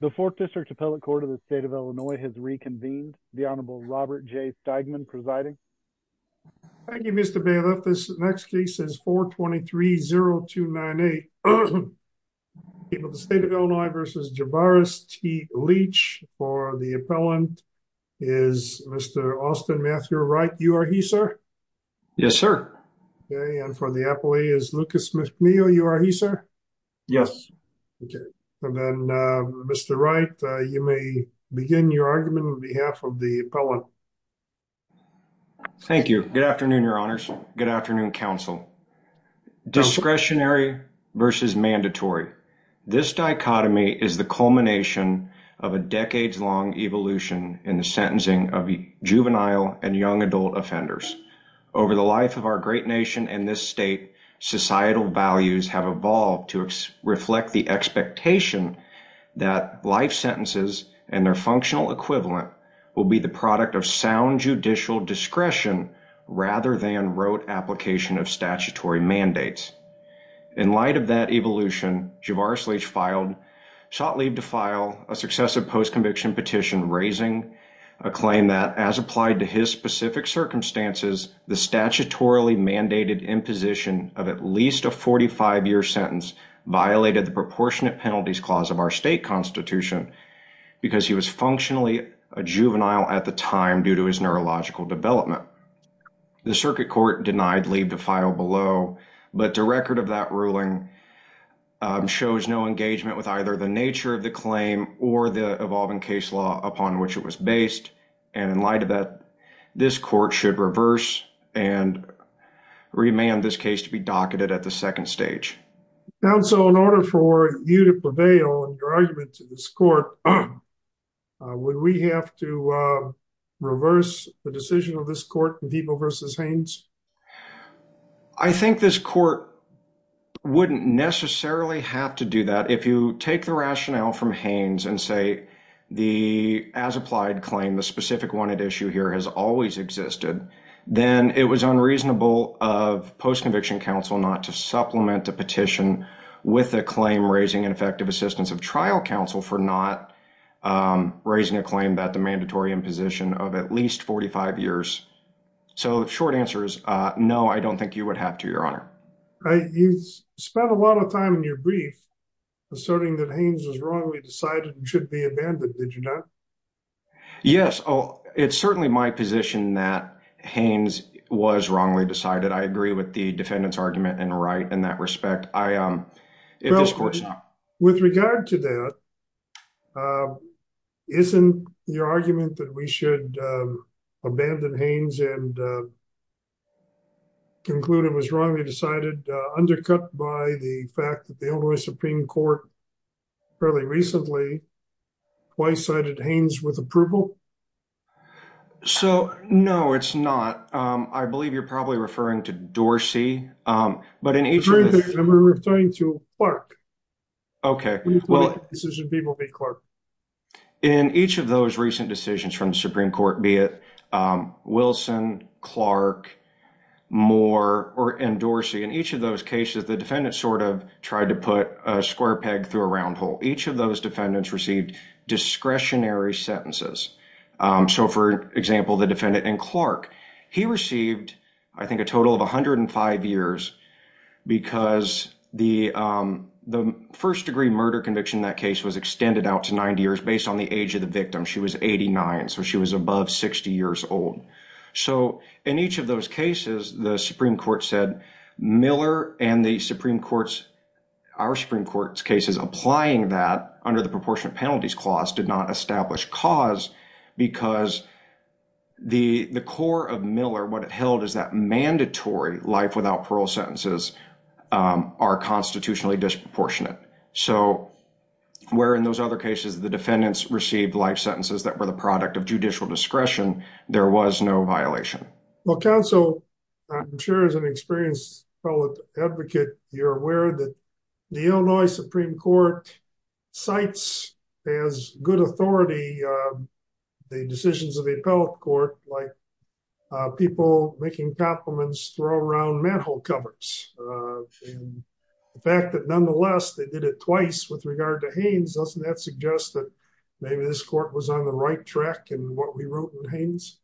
The Fourth District Appellate Court of the State of Illinois has reconvened. The Honorable Robert J. Steigman presiding. Thank you, Mr. Bailiff. This next case is 423-0298. The State of Illinois v. Jabaris T. Leach. For the appellant is Mr. Austin Matthew Wright. You are he, sir? Yes, sir. Okay. And for the appellee is Lucas McNeil. You are he, sir? Yes. Okay. And then, Mr. Wright, you may begin your argument on behalf of the appellant. Thank you. Good afternoon, your honors. Good afternoon, counsel. Discretionary versus mandatory. This dichotomy is the culmination of a decades-long evolution in the sentencing of juvenile and young adult offenders. Over the life of our great nation and this state, societal values have evolved to reflect the expectation that life sentences and their functional equivalent will be the product of sound judicial discretion rather than rote application of statutory mandates. In light of that evolution, Jabaris Leach sought leave to file a successive post-conviction petition raising a claim that, as applied to his specific circumstances, the statutorily mandated imposition of at least a 45-year sentence violated the proportionate penalties clause of our state constitution because he was functionally a juvenile at the time due to his neurological development. The circuit court denied leave to file below, but the record of that ruling shows no engagement with either the nature of the claim or the evolving case law upon which it was based. And in light of that, this court should reverse and remand this case to be docketed at the second stage. Counsel, in order for you to prevail in your argument to this court, would we have to reverse the decision of this court in Debo versus Haynes? I think this court wouldn't necessarily have to do that. If you take the rationale from Haynes and say the as-applied claim, the specific one at issue here has always existed, then it was unreasonable of post-conviction counsel not to supplement the petition with a claim raising an effective assistance of trial counsel for not raising a claim that the mandatory imposition of at least 45 years. So the short answer is no, I don't think you would have to, Your Honor. You spent a lot of time in your brief asserting that Haynes was wrongly decided and should be abandoned, did you not? Yes, it's certainly my position that Haynes was wrongly decided. I agree with the defendant's argument in that respect. With regard to that, isn't your argument that we should abandon Haynes and conclude it was wrongly decided undercut by the fact that the Illinois Supreme Court fairly recently twice cited Haynes with approval? So, no, it's not. I believe you're probably referring to Dorsey, but in each of the- In each of those recent decisions from the Supreme Court, be it Wilson, Clark, Moore, or Dorsey, in each of those cases the defendant sort of tried to put a square peg through a round hole. Each of those defendants received discretionary sentences. So, for example, the defendant in Clark, he received I think a total of 105 years because the first-degree murder conviction in that case was extended out to 90 years based on the age of the victim. She was 89, so she was above 60 years old. So, in each of those cases, the Supreme Court said Miller and the Supreme Court's- our Supreme Court's cases applying that under the Proportionate Penalties Clause did not establish cause because the core of Miller, what it held is that mandatory life without parole sentences are constitutionally disproportionate. So, where in those other cases the defendants received life sentences that were the product of judicial discretion, there was no violation. Well, counsel, I'm sure as an experienced appellate advocate, you're aware that the Illinois Supreme Court cites as good authority the decisions of the appellate court, like people making compliments throw around manhole covers, and the fact that nonetheless they did it twice with regard to Haynes, doesn't that suggest that maybe this court was on the right track in what we wrote in Haynes?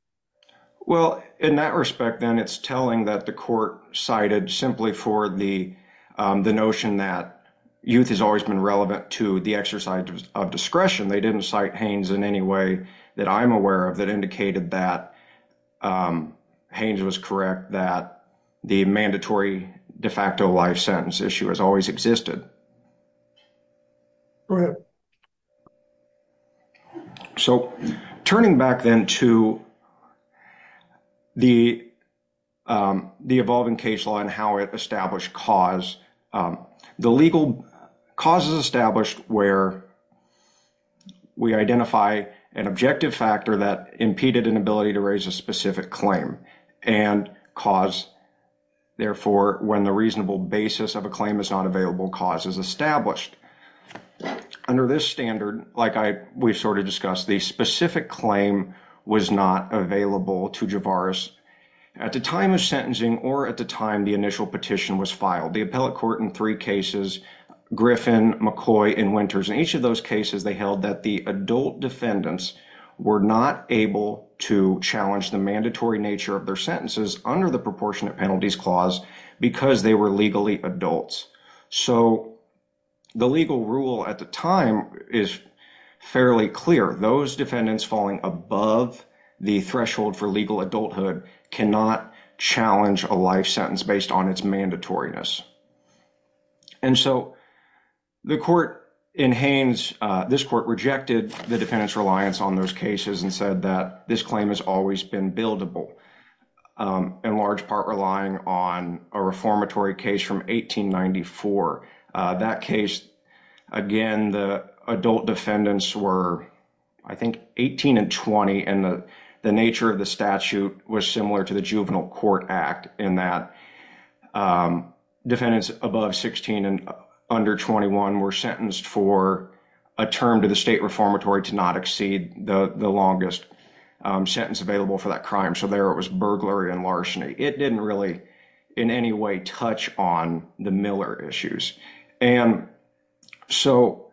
Well, in that respect then, it's telling that the court cited simply for the notion that youth has always been relevant to the exercise of discretion. They didn't cite Haynes in any way that I'm aware of that indicated that the mandatory de facto life sentence issue has always existed. Go ahead. So, turning back then to the evolving case law and how it established cause, the legal cause is established where we identify an objective factor that impeded an ability to raise a specific claim and cause, therefore, when the reasonable basis of a claim is not available, cause is established. Under this standard, like we've sort of discussed, the specific claim was not available to Javaris at the time of sentencing or at the time the initial petition was filed. The appellate court in three cases, Griffin, McCoy, and Winters, in each of those cases, they held that the adult under the proportionate penalties clause because they were legally adults. So, the legal rule at the time is fairly clear. Those defendants falling above the threshold for legal adulthood cannot challenge a life sentence based on its mandatoriness. And so, the court in Haynes, this court rejected the defendant's reliance on those cases and said that this claim has always been buildable, in large part relying on a reformatory case from 1894. That case, again, the adult defendants were, I think, 18 and 20, and the nature of the statute was similar to the Juvenile Court Act in that defendants above 16 and under 21 were sentenced for a term to the state reformatory to not exceed the longest sentence available for that crime. So, there it was burglary and larceny. It didn't really, in any way, touch on the Miller issues. And so,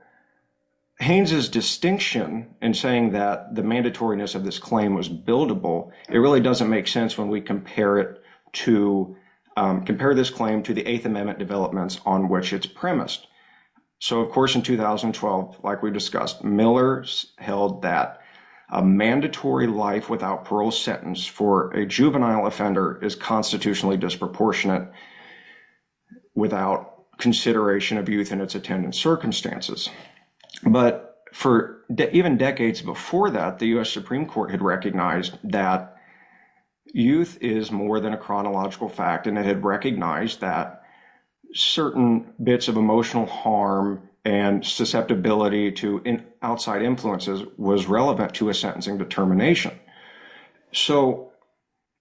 Haynes' distinction in saying that the mandatoriness of this claim was buildable, it really doesn't make sense when we compare this claim to the Eighth Amendment developments on which it's premised. So, of course, in 2012, like we discussed, Miller's held that a mandatory life without parole sentence for a juvenile offender is constitutionally disproportionate without consideration of youth and its attendant circumstances. But for even decades before that, the U.S. Supreme Court had recognized that youth is more than a chronological fact and it had recognized that certain bits of emotional harm and susceptibility to outside influences was relevant to a sentencing determination. So,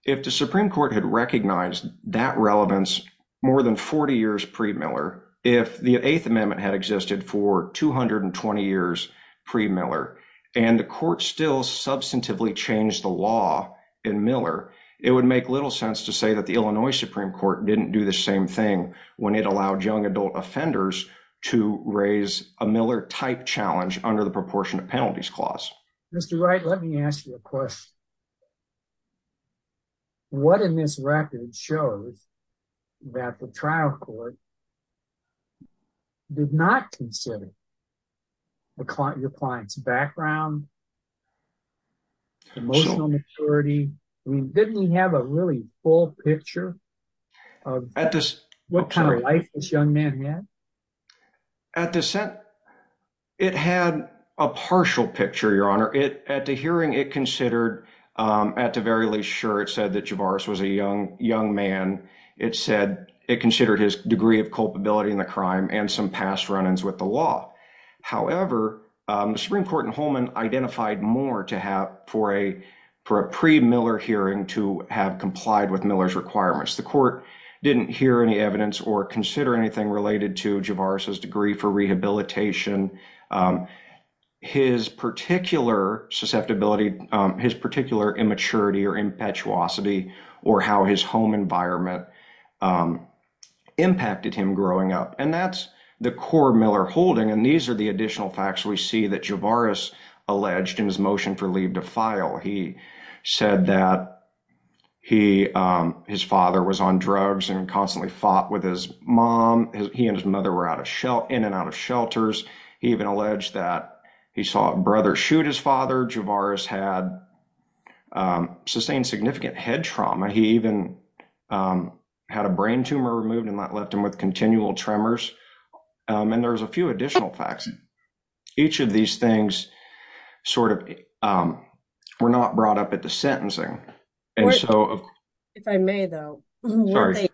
if the Supreme Court had recognized that relevance more than 40 years pre-Miller, if the Eighth Amendment had existed for 220 years pre-Miller and the court still substantively changed the law in Miller, it would make little sense to say that the Illinois Supreme Court didn't do the same thing when it allowed young adult offenders to raise a Miller-type challenge under the proportionate penalties clause. Mr. Wright, let me ask you a question. What in this record shows that the trial court did not consider your client's background, emotional maturity? I mean, didn't he have a really full picture of what kind of life this young man had? At this, it had a partial picture, Your Honor. At the hearing, it considered, at the very least, sure, it said that Javaris was a young man. It said it considered his degree of culpability in the crime and some past run-ins with the law. However, the Supreme Court and more to have for a pre-Miller hearing to have complied with Miller's requirements. The court didn't hear any evidence or consider anything related to Javaris's degree for rehabilitation, his particular susceptibility, his particular immaturity or impetuosity, or how his home environment impacted him growing up. And that's the core Miller holding, and these are the motion for leave to file. He said that his father was on drugs and constantly fought with his mom. He and his mother were in and out of shelters. He even alleged that he saw a brother shoot his father. Javaris had sustained significant head trauma. He even had a brain tumor removed and that left him with continual tremors. And there's a few additional facts. Each of these things sort of were not brought up at the sentencing. If I may though, the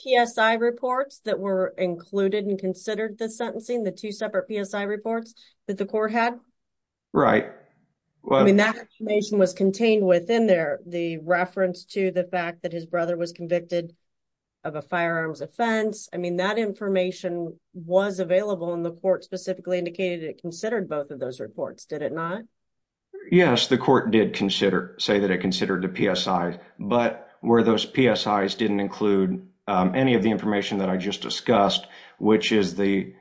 PSI reports that were included and considered the sentencing, the two separate PSI reports that the court had. Right. I mean, that information was contained within there. The reference to the fact that his brother was convicted of a firearms offense. I mean, that information was available and the not? Yes, the court did say that it considered the PSI, but where those PSIs didn't include any of the information that I just discussed, which is the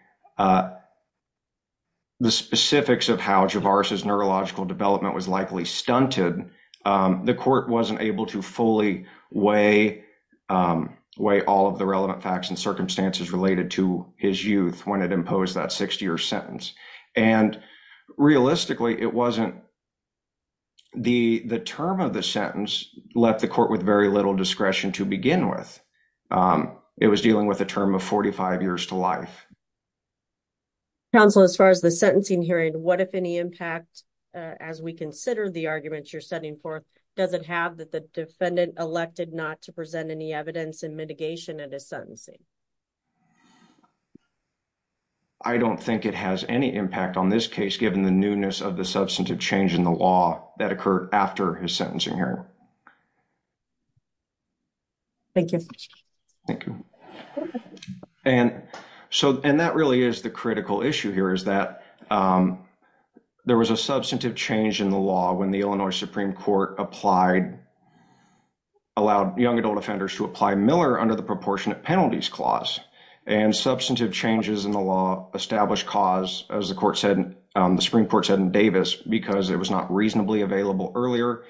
specifics of how Javaris's neurological development was likely stunted, the court wasn't able to fully weigh all of the relevant facts and circumstances related to his youth when it imposed that 60-year sentence. And realistically, the term of the sentence left the court with very little discretion to begin with. It was dealing with a term of 45 years to life. Counsel, as far as the sentencing hearing, what if any impact, as we consider the arguments you're setting forth, does it have that the defendant elected not to present any evidence in mitigation at his sentencing? I don't think it has any impact on this case, given the newness of the substantive change in the law that occurred after his sentencing hearing. Thank you. Thank you. And so, and that really is the critical issue here, is that there was a substantive change in the law when the Illinois Supreme Court applied, allowed young adult offenders to apply Miller under the proportionate penalties clause. And substantive changes in the law established cause, as the Supreme Court said in Davis, because it was not reasonably available earlier,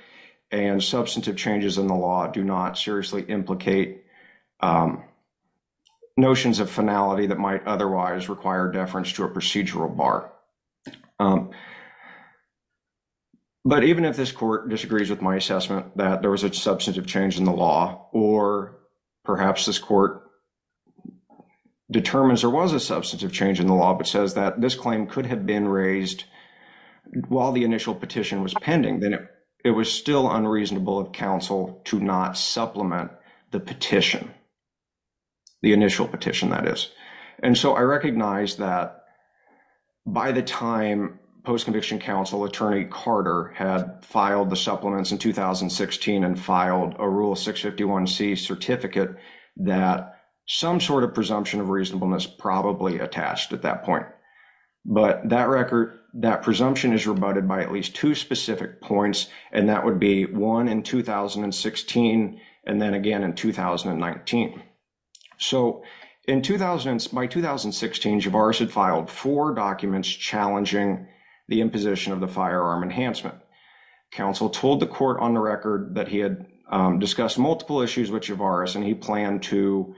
and substantive changes in the law do not seriously implicate notions of finality that might otherwise require deference to a procedural bar. But even if this court disagrees with my assessment that there was a substantive change in the law, or perhaps this court determines there was a substantive change in the law, but says that this claim could have been raised while the initial petition was pending, then it was still unreasonable of counsel to not supplement the petition, the initial petition, that is. And so, I recognize that by the time post-conviction counsel, Attorney Carter, had filed the supplements in 2016 and filed a Rule 651C certificate that some sort of presumption of reasonableness probably attached at that point. But that record, that presumption is rebutted by at least two specific points, and that would be one in 2016, and then again in 2019. So, by 2016, Javaris had filed four imposition of the firearm enhancement. Counsel told the court on the record that he had discussed multiple issues with Javaris, and he planned to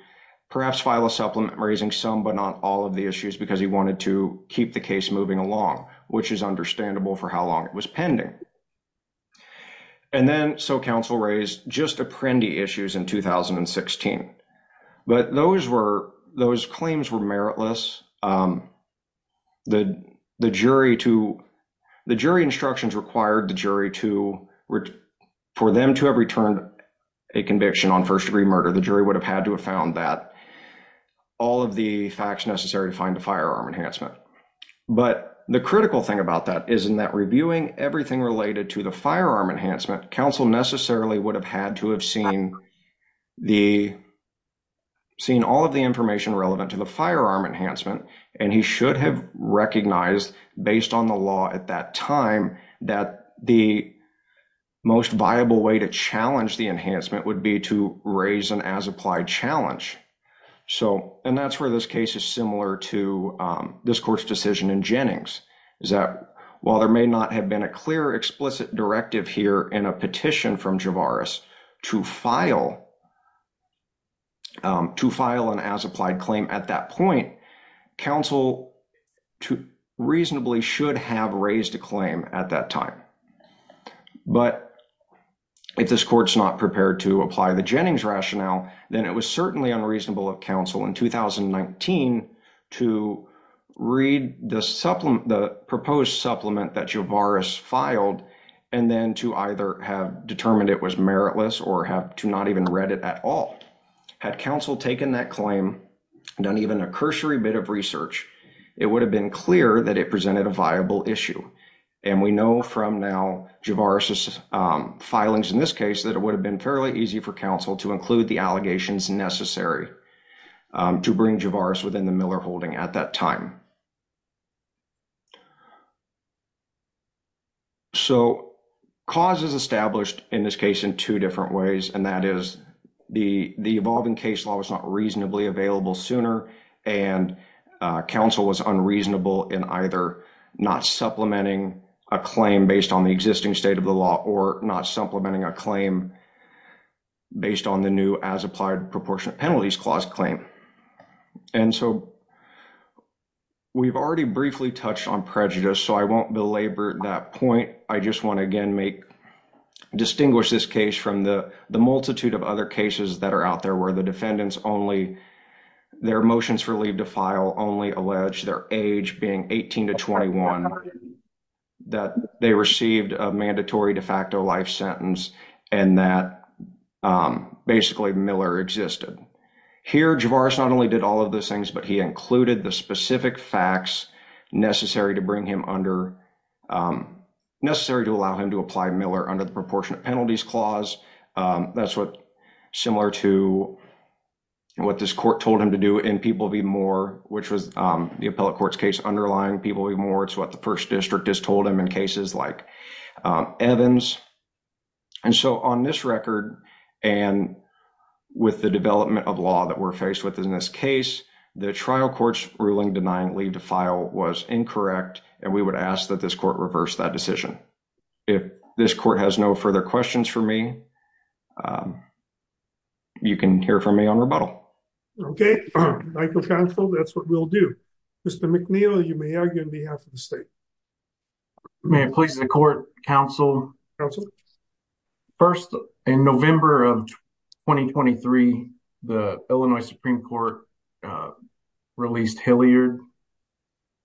perhaps file a supplement raising some but not all of the issues, because he wanted to keep the case moving along, which is understandable for how long it was pending. And then, so counsel raised just apprendee issues in 2016. But those claims were meritless. The jury instructions required for them to have returned a conviction on first-degree murder. The jury would have had to have found that, all of the facts necessary to find a firearm enhancement. But the critical thing about that is in that reviewing everything related to the firearm enhancement, counsel necessarily would have had to have seen the, seen all of the information relevant to the firearm enhancement, and he should have recognized, based on the law at that time, that the most viable way to challenge the enhancement would be to raise an as-applied challenge. So, and that's where this case is similar to this court's decision in Jennings, is that while there may not have been a clear explicit directive here in a petition from Javaris to file, to file an as-applied claim at that point, counsel reasonably should have raised a claim at that time. But if this court's not prepared to apply the Jennings rationale, then it was certainly unreasonable of counsel in 2019 to read the supplement, the proposed supplement that Javaris filed, and then to either have determined it was meritless or have to not even read it at all. Had counsel taken that claim, done even a cursory bit of research, it would have been clear that it presented a viable issue. And we know from now Javaris' filings in this case that it would have been fairly easy for to bring Javaris within the Miller holding at that time. So, causes established in this case in two different ways, and that is the evolving case law was not reasonably available sooner, and counsel was unreasonable in either not supplementing a claim based on the existing state of the law or not supplementing a claim based on the new as-applied proportionate penalties clause claim. And so, we've already briefly touched on prejudice, so I won't belabor that point. I just want to again make, distinguish this case from the multitude of other cases that are out there where the defendants only, their motions for leave to file only allege their age being 18 to 21, that they received a mandatory de facto life sentence, and that basically Miller existed. Here, Javaris not only did all of those things, but he included the specific facts necessary to bring him under, necessary to allow him to apply Miller under the proportionate penalties clause. That's what, similar to what this court told him to do in People v. Moore, which was the appellate court's case underlying People v. Moore. It's what the 1st District has told him in cases like Evans. And so, on this record, and with the development of law that we're faced with in this case, the trial court's ruling denying leave to file was incorrect, and we would ask that this court reverse that decision. If this court has no further questions for me, you can hear from me on rebuttal. Okay, Michael Canfield, that's what we'll do. Mr. McNeil, you may argue on behalf of the state. May it please the court, counsel? First, in November of 2023, the Illinois Supreme Court released Hilliard,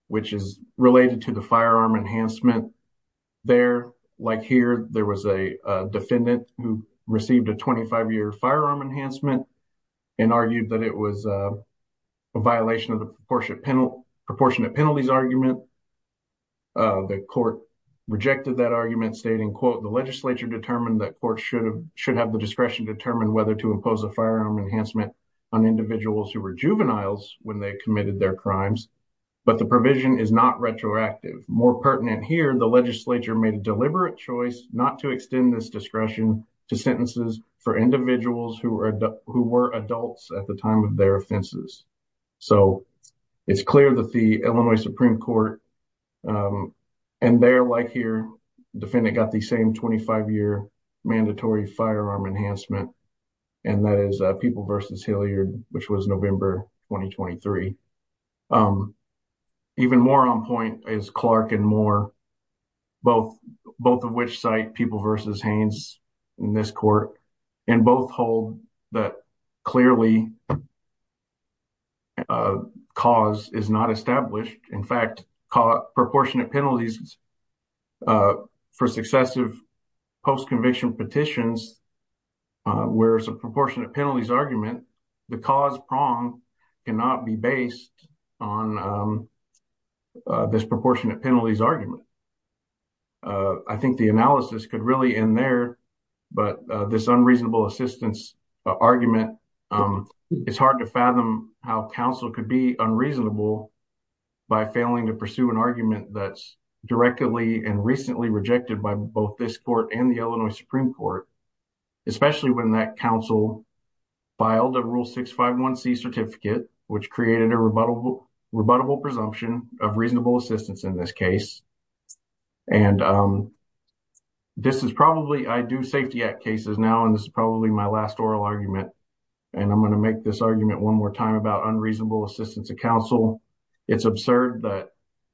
which is related to the firearm enhancement. There, like here, there was a defendant who received a 25-year firearm enhancement and argued that it was a violation of the proportionate penalties argument. The court rejected that argument stating, quote, the legislature determined that courts should have the discretion to determine whether to impose a firearm enhancement on individuals who were juveniles when they committed their crimes, but the provision is not retroactive. More pertinent here, the legislature made a deliberate choice not to extend this discretion to sentences for individuals who were adults at the time of their offenses. So, it's clear that the Illinois Supreme Court, and there, like here, the defendant got the same 25-year mandatory firearm enhancement, and that is People v. Hilliard, which was November 2023. Even more on point is Clark and Moore, both of which cite People v. Haynes in this court, and both hold that clearly cause is not established. In fact, proportionate penalties for successive post-conviction petitions, where it's a proportionate penalties argument, the cause prong cannot be based on this proportionate penalties argument. I think the analysis could really end there, but this unreasonable assistance argument, it's hard to fathom how counsel could be unreasonable by failing to pursue an argument that's directly and recently rejected by both this court and the Illinois Supreme Court, especially when that counsel filed a Rule 651C certificate, which created a rebuttable presumption of reasonable assistance in this case. And this is probably, I do Safety Act cases now, and this is probably my last oral argument, and I'm going to make this argument one more time about unreasonable assistance of counsel. It's absurd that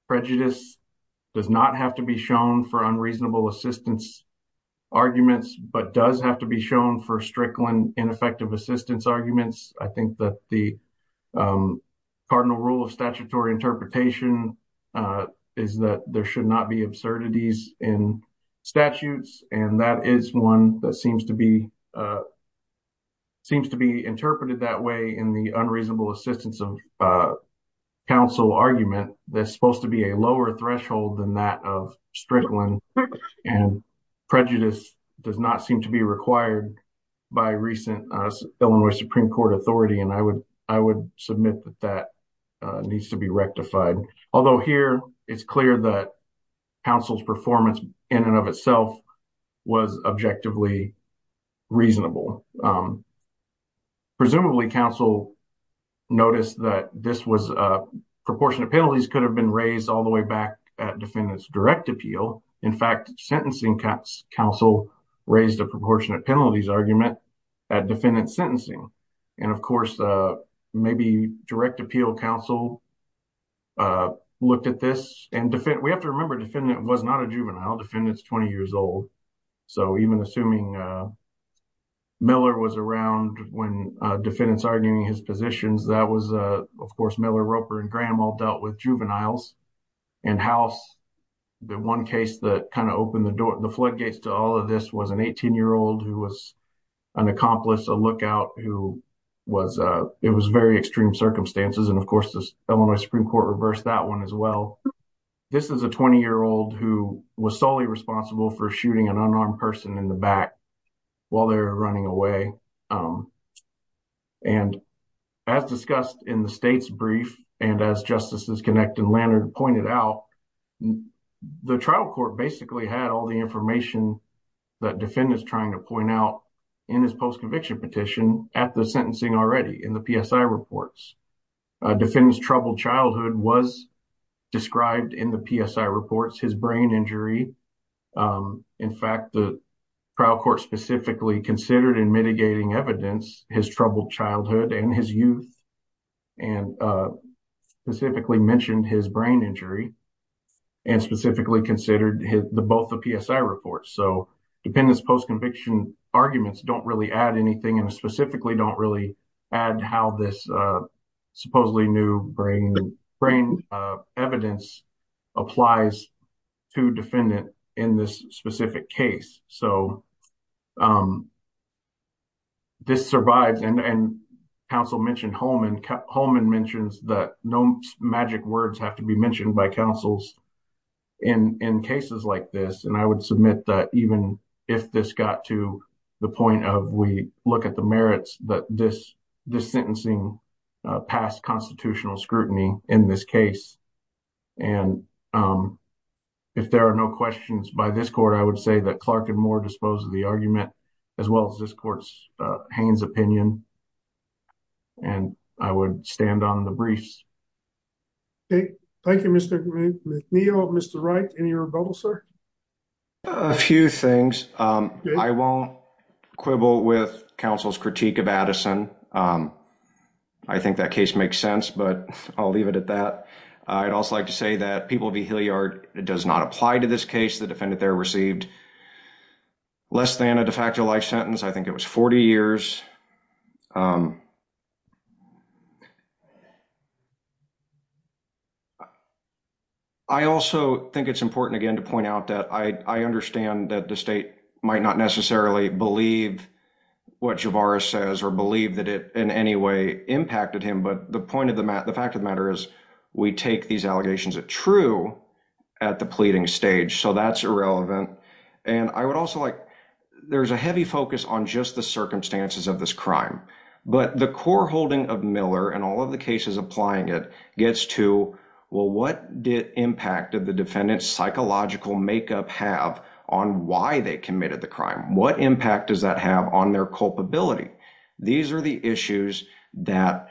prejudice does not have to be shown for unreasonable assistance arguments, but does have to be shown for Strickland ineffective assistance arguments. I think that the cardinal rule of statutory interpretation is that there should not be absurdities in statutes, and that is one that seems to be interpreted that way in the unreasonable assistance of counsel argument. There's supposed to be a lower threshold than that of Strickland, and prejudice does not seem to be required by recent Illinois Supreme Court authority, and I would submit that that needs to be rectified. Although here, it's clear that counsel's performance in and of itself was objectively reasonable. Presumably, counsel noticed that proportionate penalties could have been raised all the way back at defendant's direct appeal. In fact, sentencing counsel raised a proportionate penalties argument at defendant's sentencing. And of course, maybe direct appeal counsel looked at this, and we have to remember, defendant was not a juvenile. Defendant's 20 years old, so even assuming Miller was around when defendants arguing his positions, that was, of course, Miller, Roper, and Granwell dealt with juveniles. And House, the one case that kind of opened the floodgates to all of this was an 18-year-old who was an accomplice, a lookout, who was, it was very extreme circumstances, and of course, Illinois Supreme Court reversed that as well. This is a 20-year-old who was solely responsible for shooting an unarmed person in the back while they're running away. And as discussed in the state's brief, and as Justices Connect and Lannert pointed out, the trial court basically had all the information that defendant's trying to point out in his post-conviction petition at the sentencing already, in the PSI reports. Defendant's troubled childhood was described in the PSI reports, his brain injury. In fact, the trial court specifically considered in mitigating evidence, his troubled childhood and his youth, and specifically mentioned his brain injury, and specifically considered both the PSI reports. So, defendant's post-conviction arguments don't really add anything, and specifically don't really add how this supposedly new brain evidence applies to defendant in this specific case. So, this survives, and counsel mentioned Holman, Holman mentions that no magic words have to be the point of we look at the merits that this sentencing past constitutional scrutiny in this case. And if there are no questions by this court, I would say that Clark and Moore dispose of the argument, as well as this court's Haynes opinion, and I would stand on the briefs. Okay. Thank you, Mr. McNeil. Mr. Wright, any rebuttal, sir? A few things. I won't quibble with counsel's critique of Addison. I think that case makes sense, but I'll leave it at that. I'd also like to say that People v. Hilliard does not apply to this case. The defendant there received less than a de facto life sentence. I think it was 40 years. I also think it's important, again, to point out that I understand that the state might not necessarily believe what Javaris says or believe that it in any way impacted him, but the fact of the matter is we take these allegations at true at the pleading stage, so that's irrelevant. And I would also like, there's a heavy focus on just the circumstances of this crime, but the core holding of Miller and all of the cases applying it gets to, well, what did impact of the defendant's psychological makeup have on why they committed the crime? What impact does that have on their culpability? These are the issues that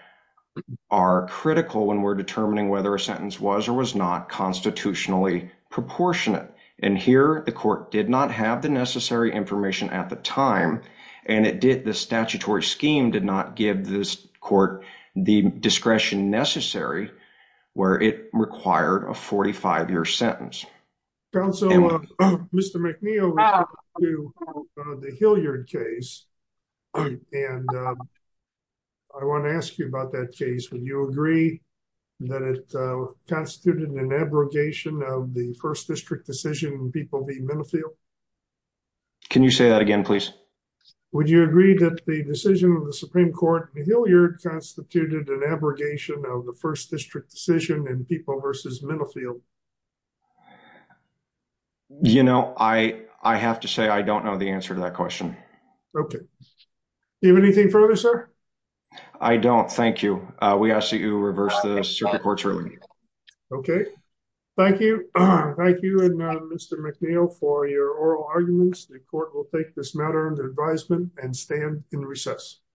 are critical when we're determining whether a sentence was or was not constitutionally proportionate. And here, the court did not have the necessary information at the time, and it did, the statutory scheme did not give this court the discretion necessary where it required a 45-year sentence. Counsel, Mr. McNeil, the Hilliard case, and I want to ask you about that case. Would you agree that it constituted an abrogation of the first district decision in People v. Minifield? Can you say that again, please? Would you agree that the decision of the Supreme Court, the Hilliard constituted an abrogation of the first district decision in People v. Minifield? You know, I have to say I don't know the answer to that question. Okay. Do you have anything further, sir? I don't. Thank you. We ask that you reverse the Supreme Court's ruling. Okay. Thank you. Thank you, Mr. McNeil, for your oral arguments. The court will take this matter under advisement and stand in recess.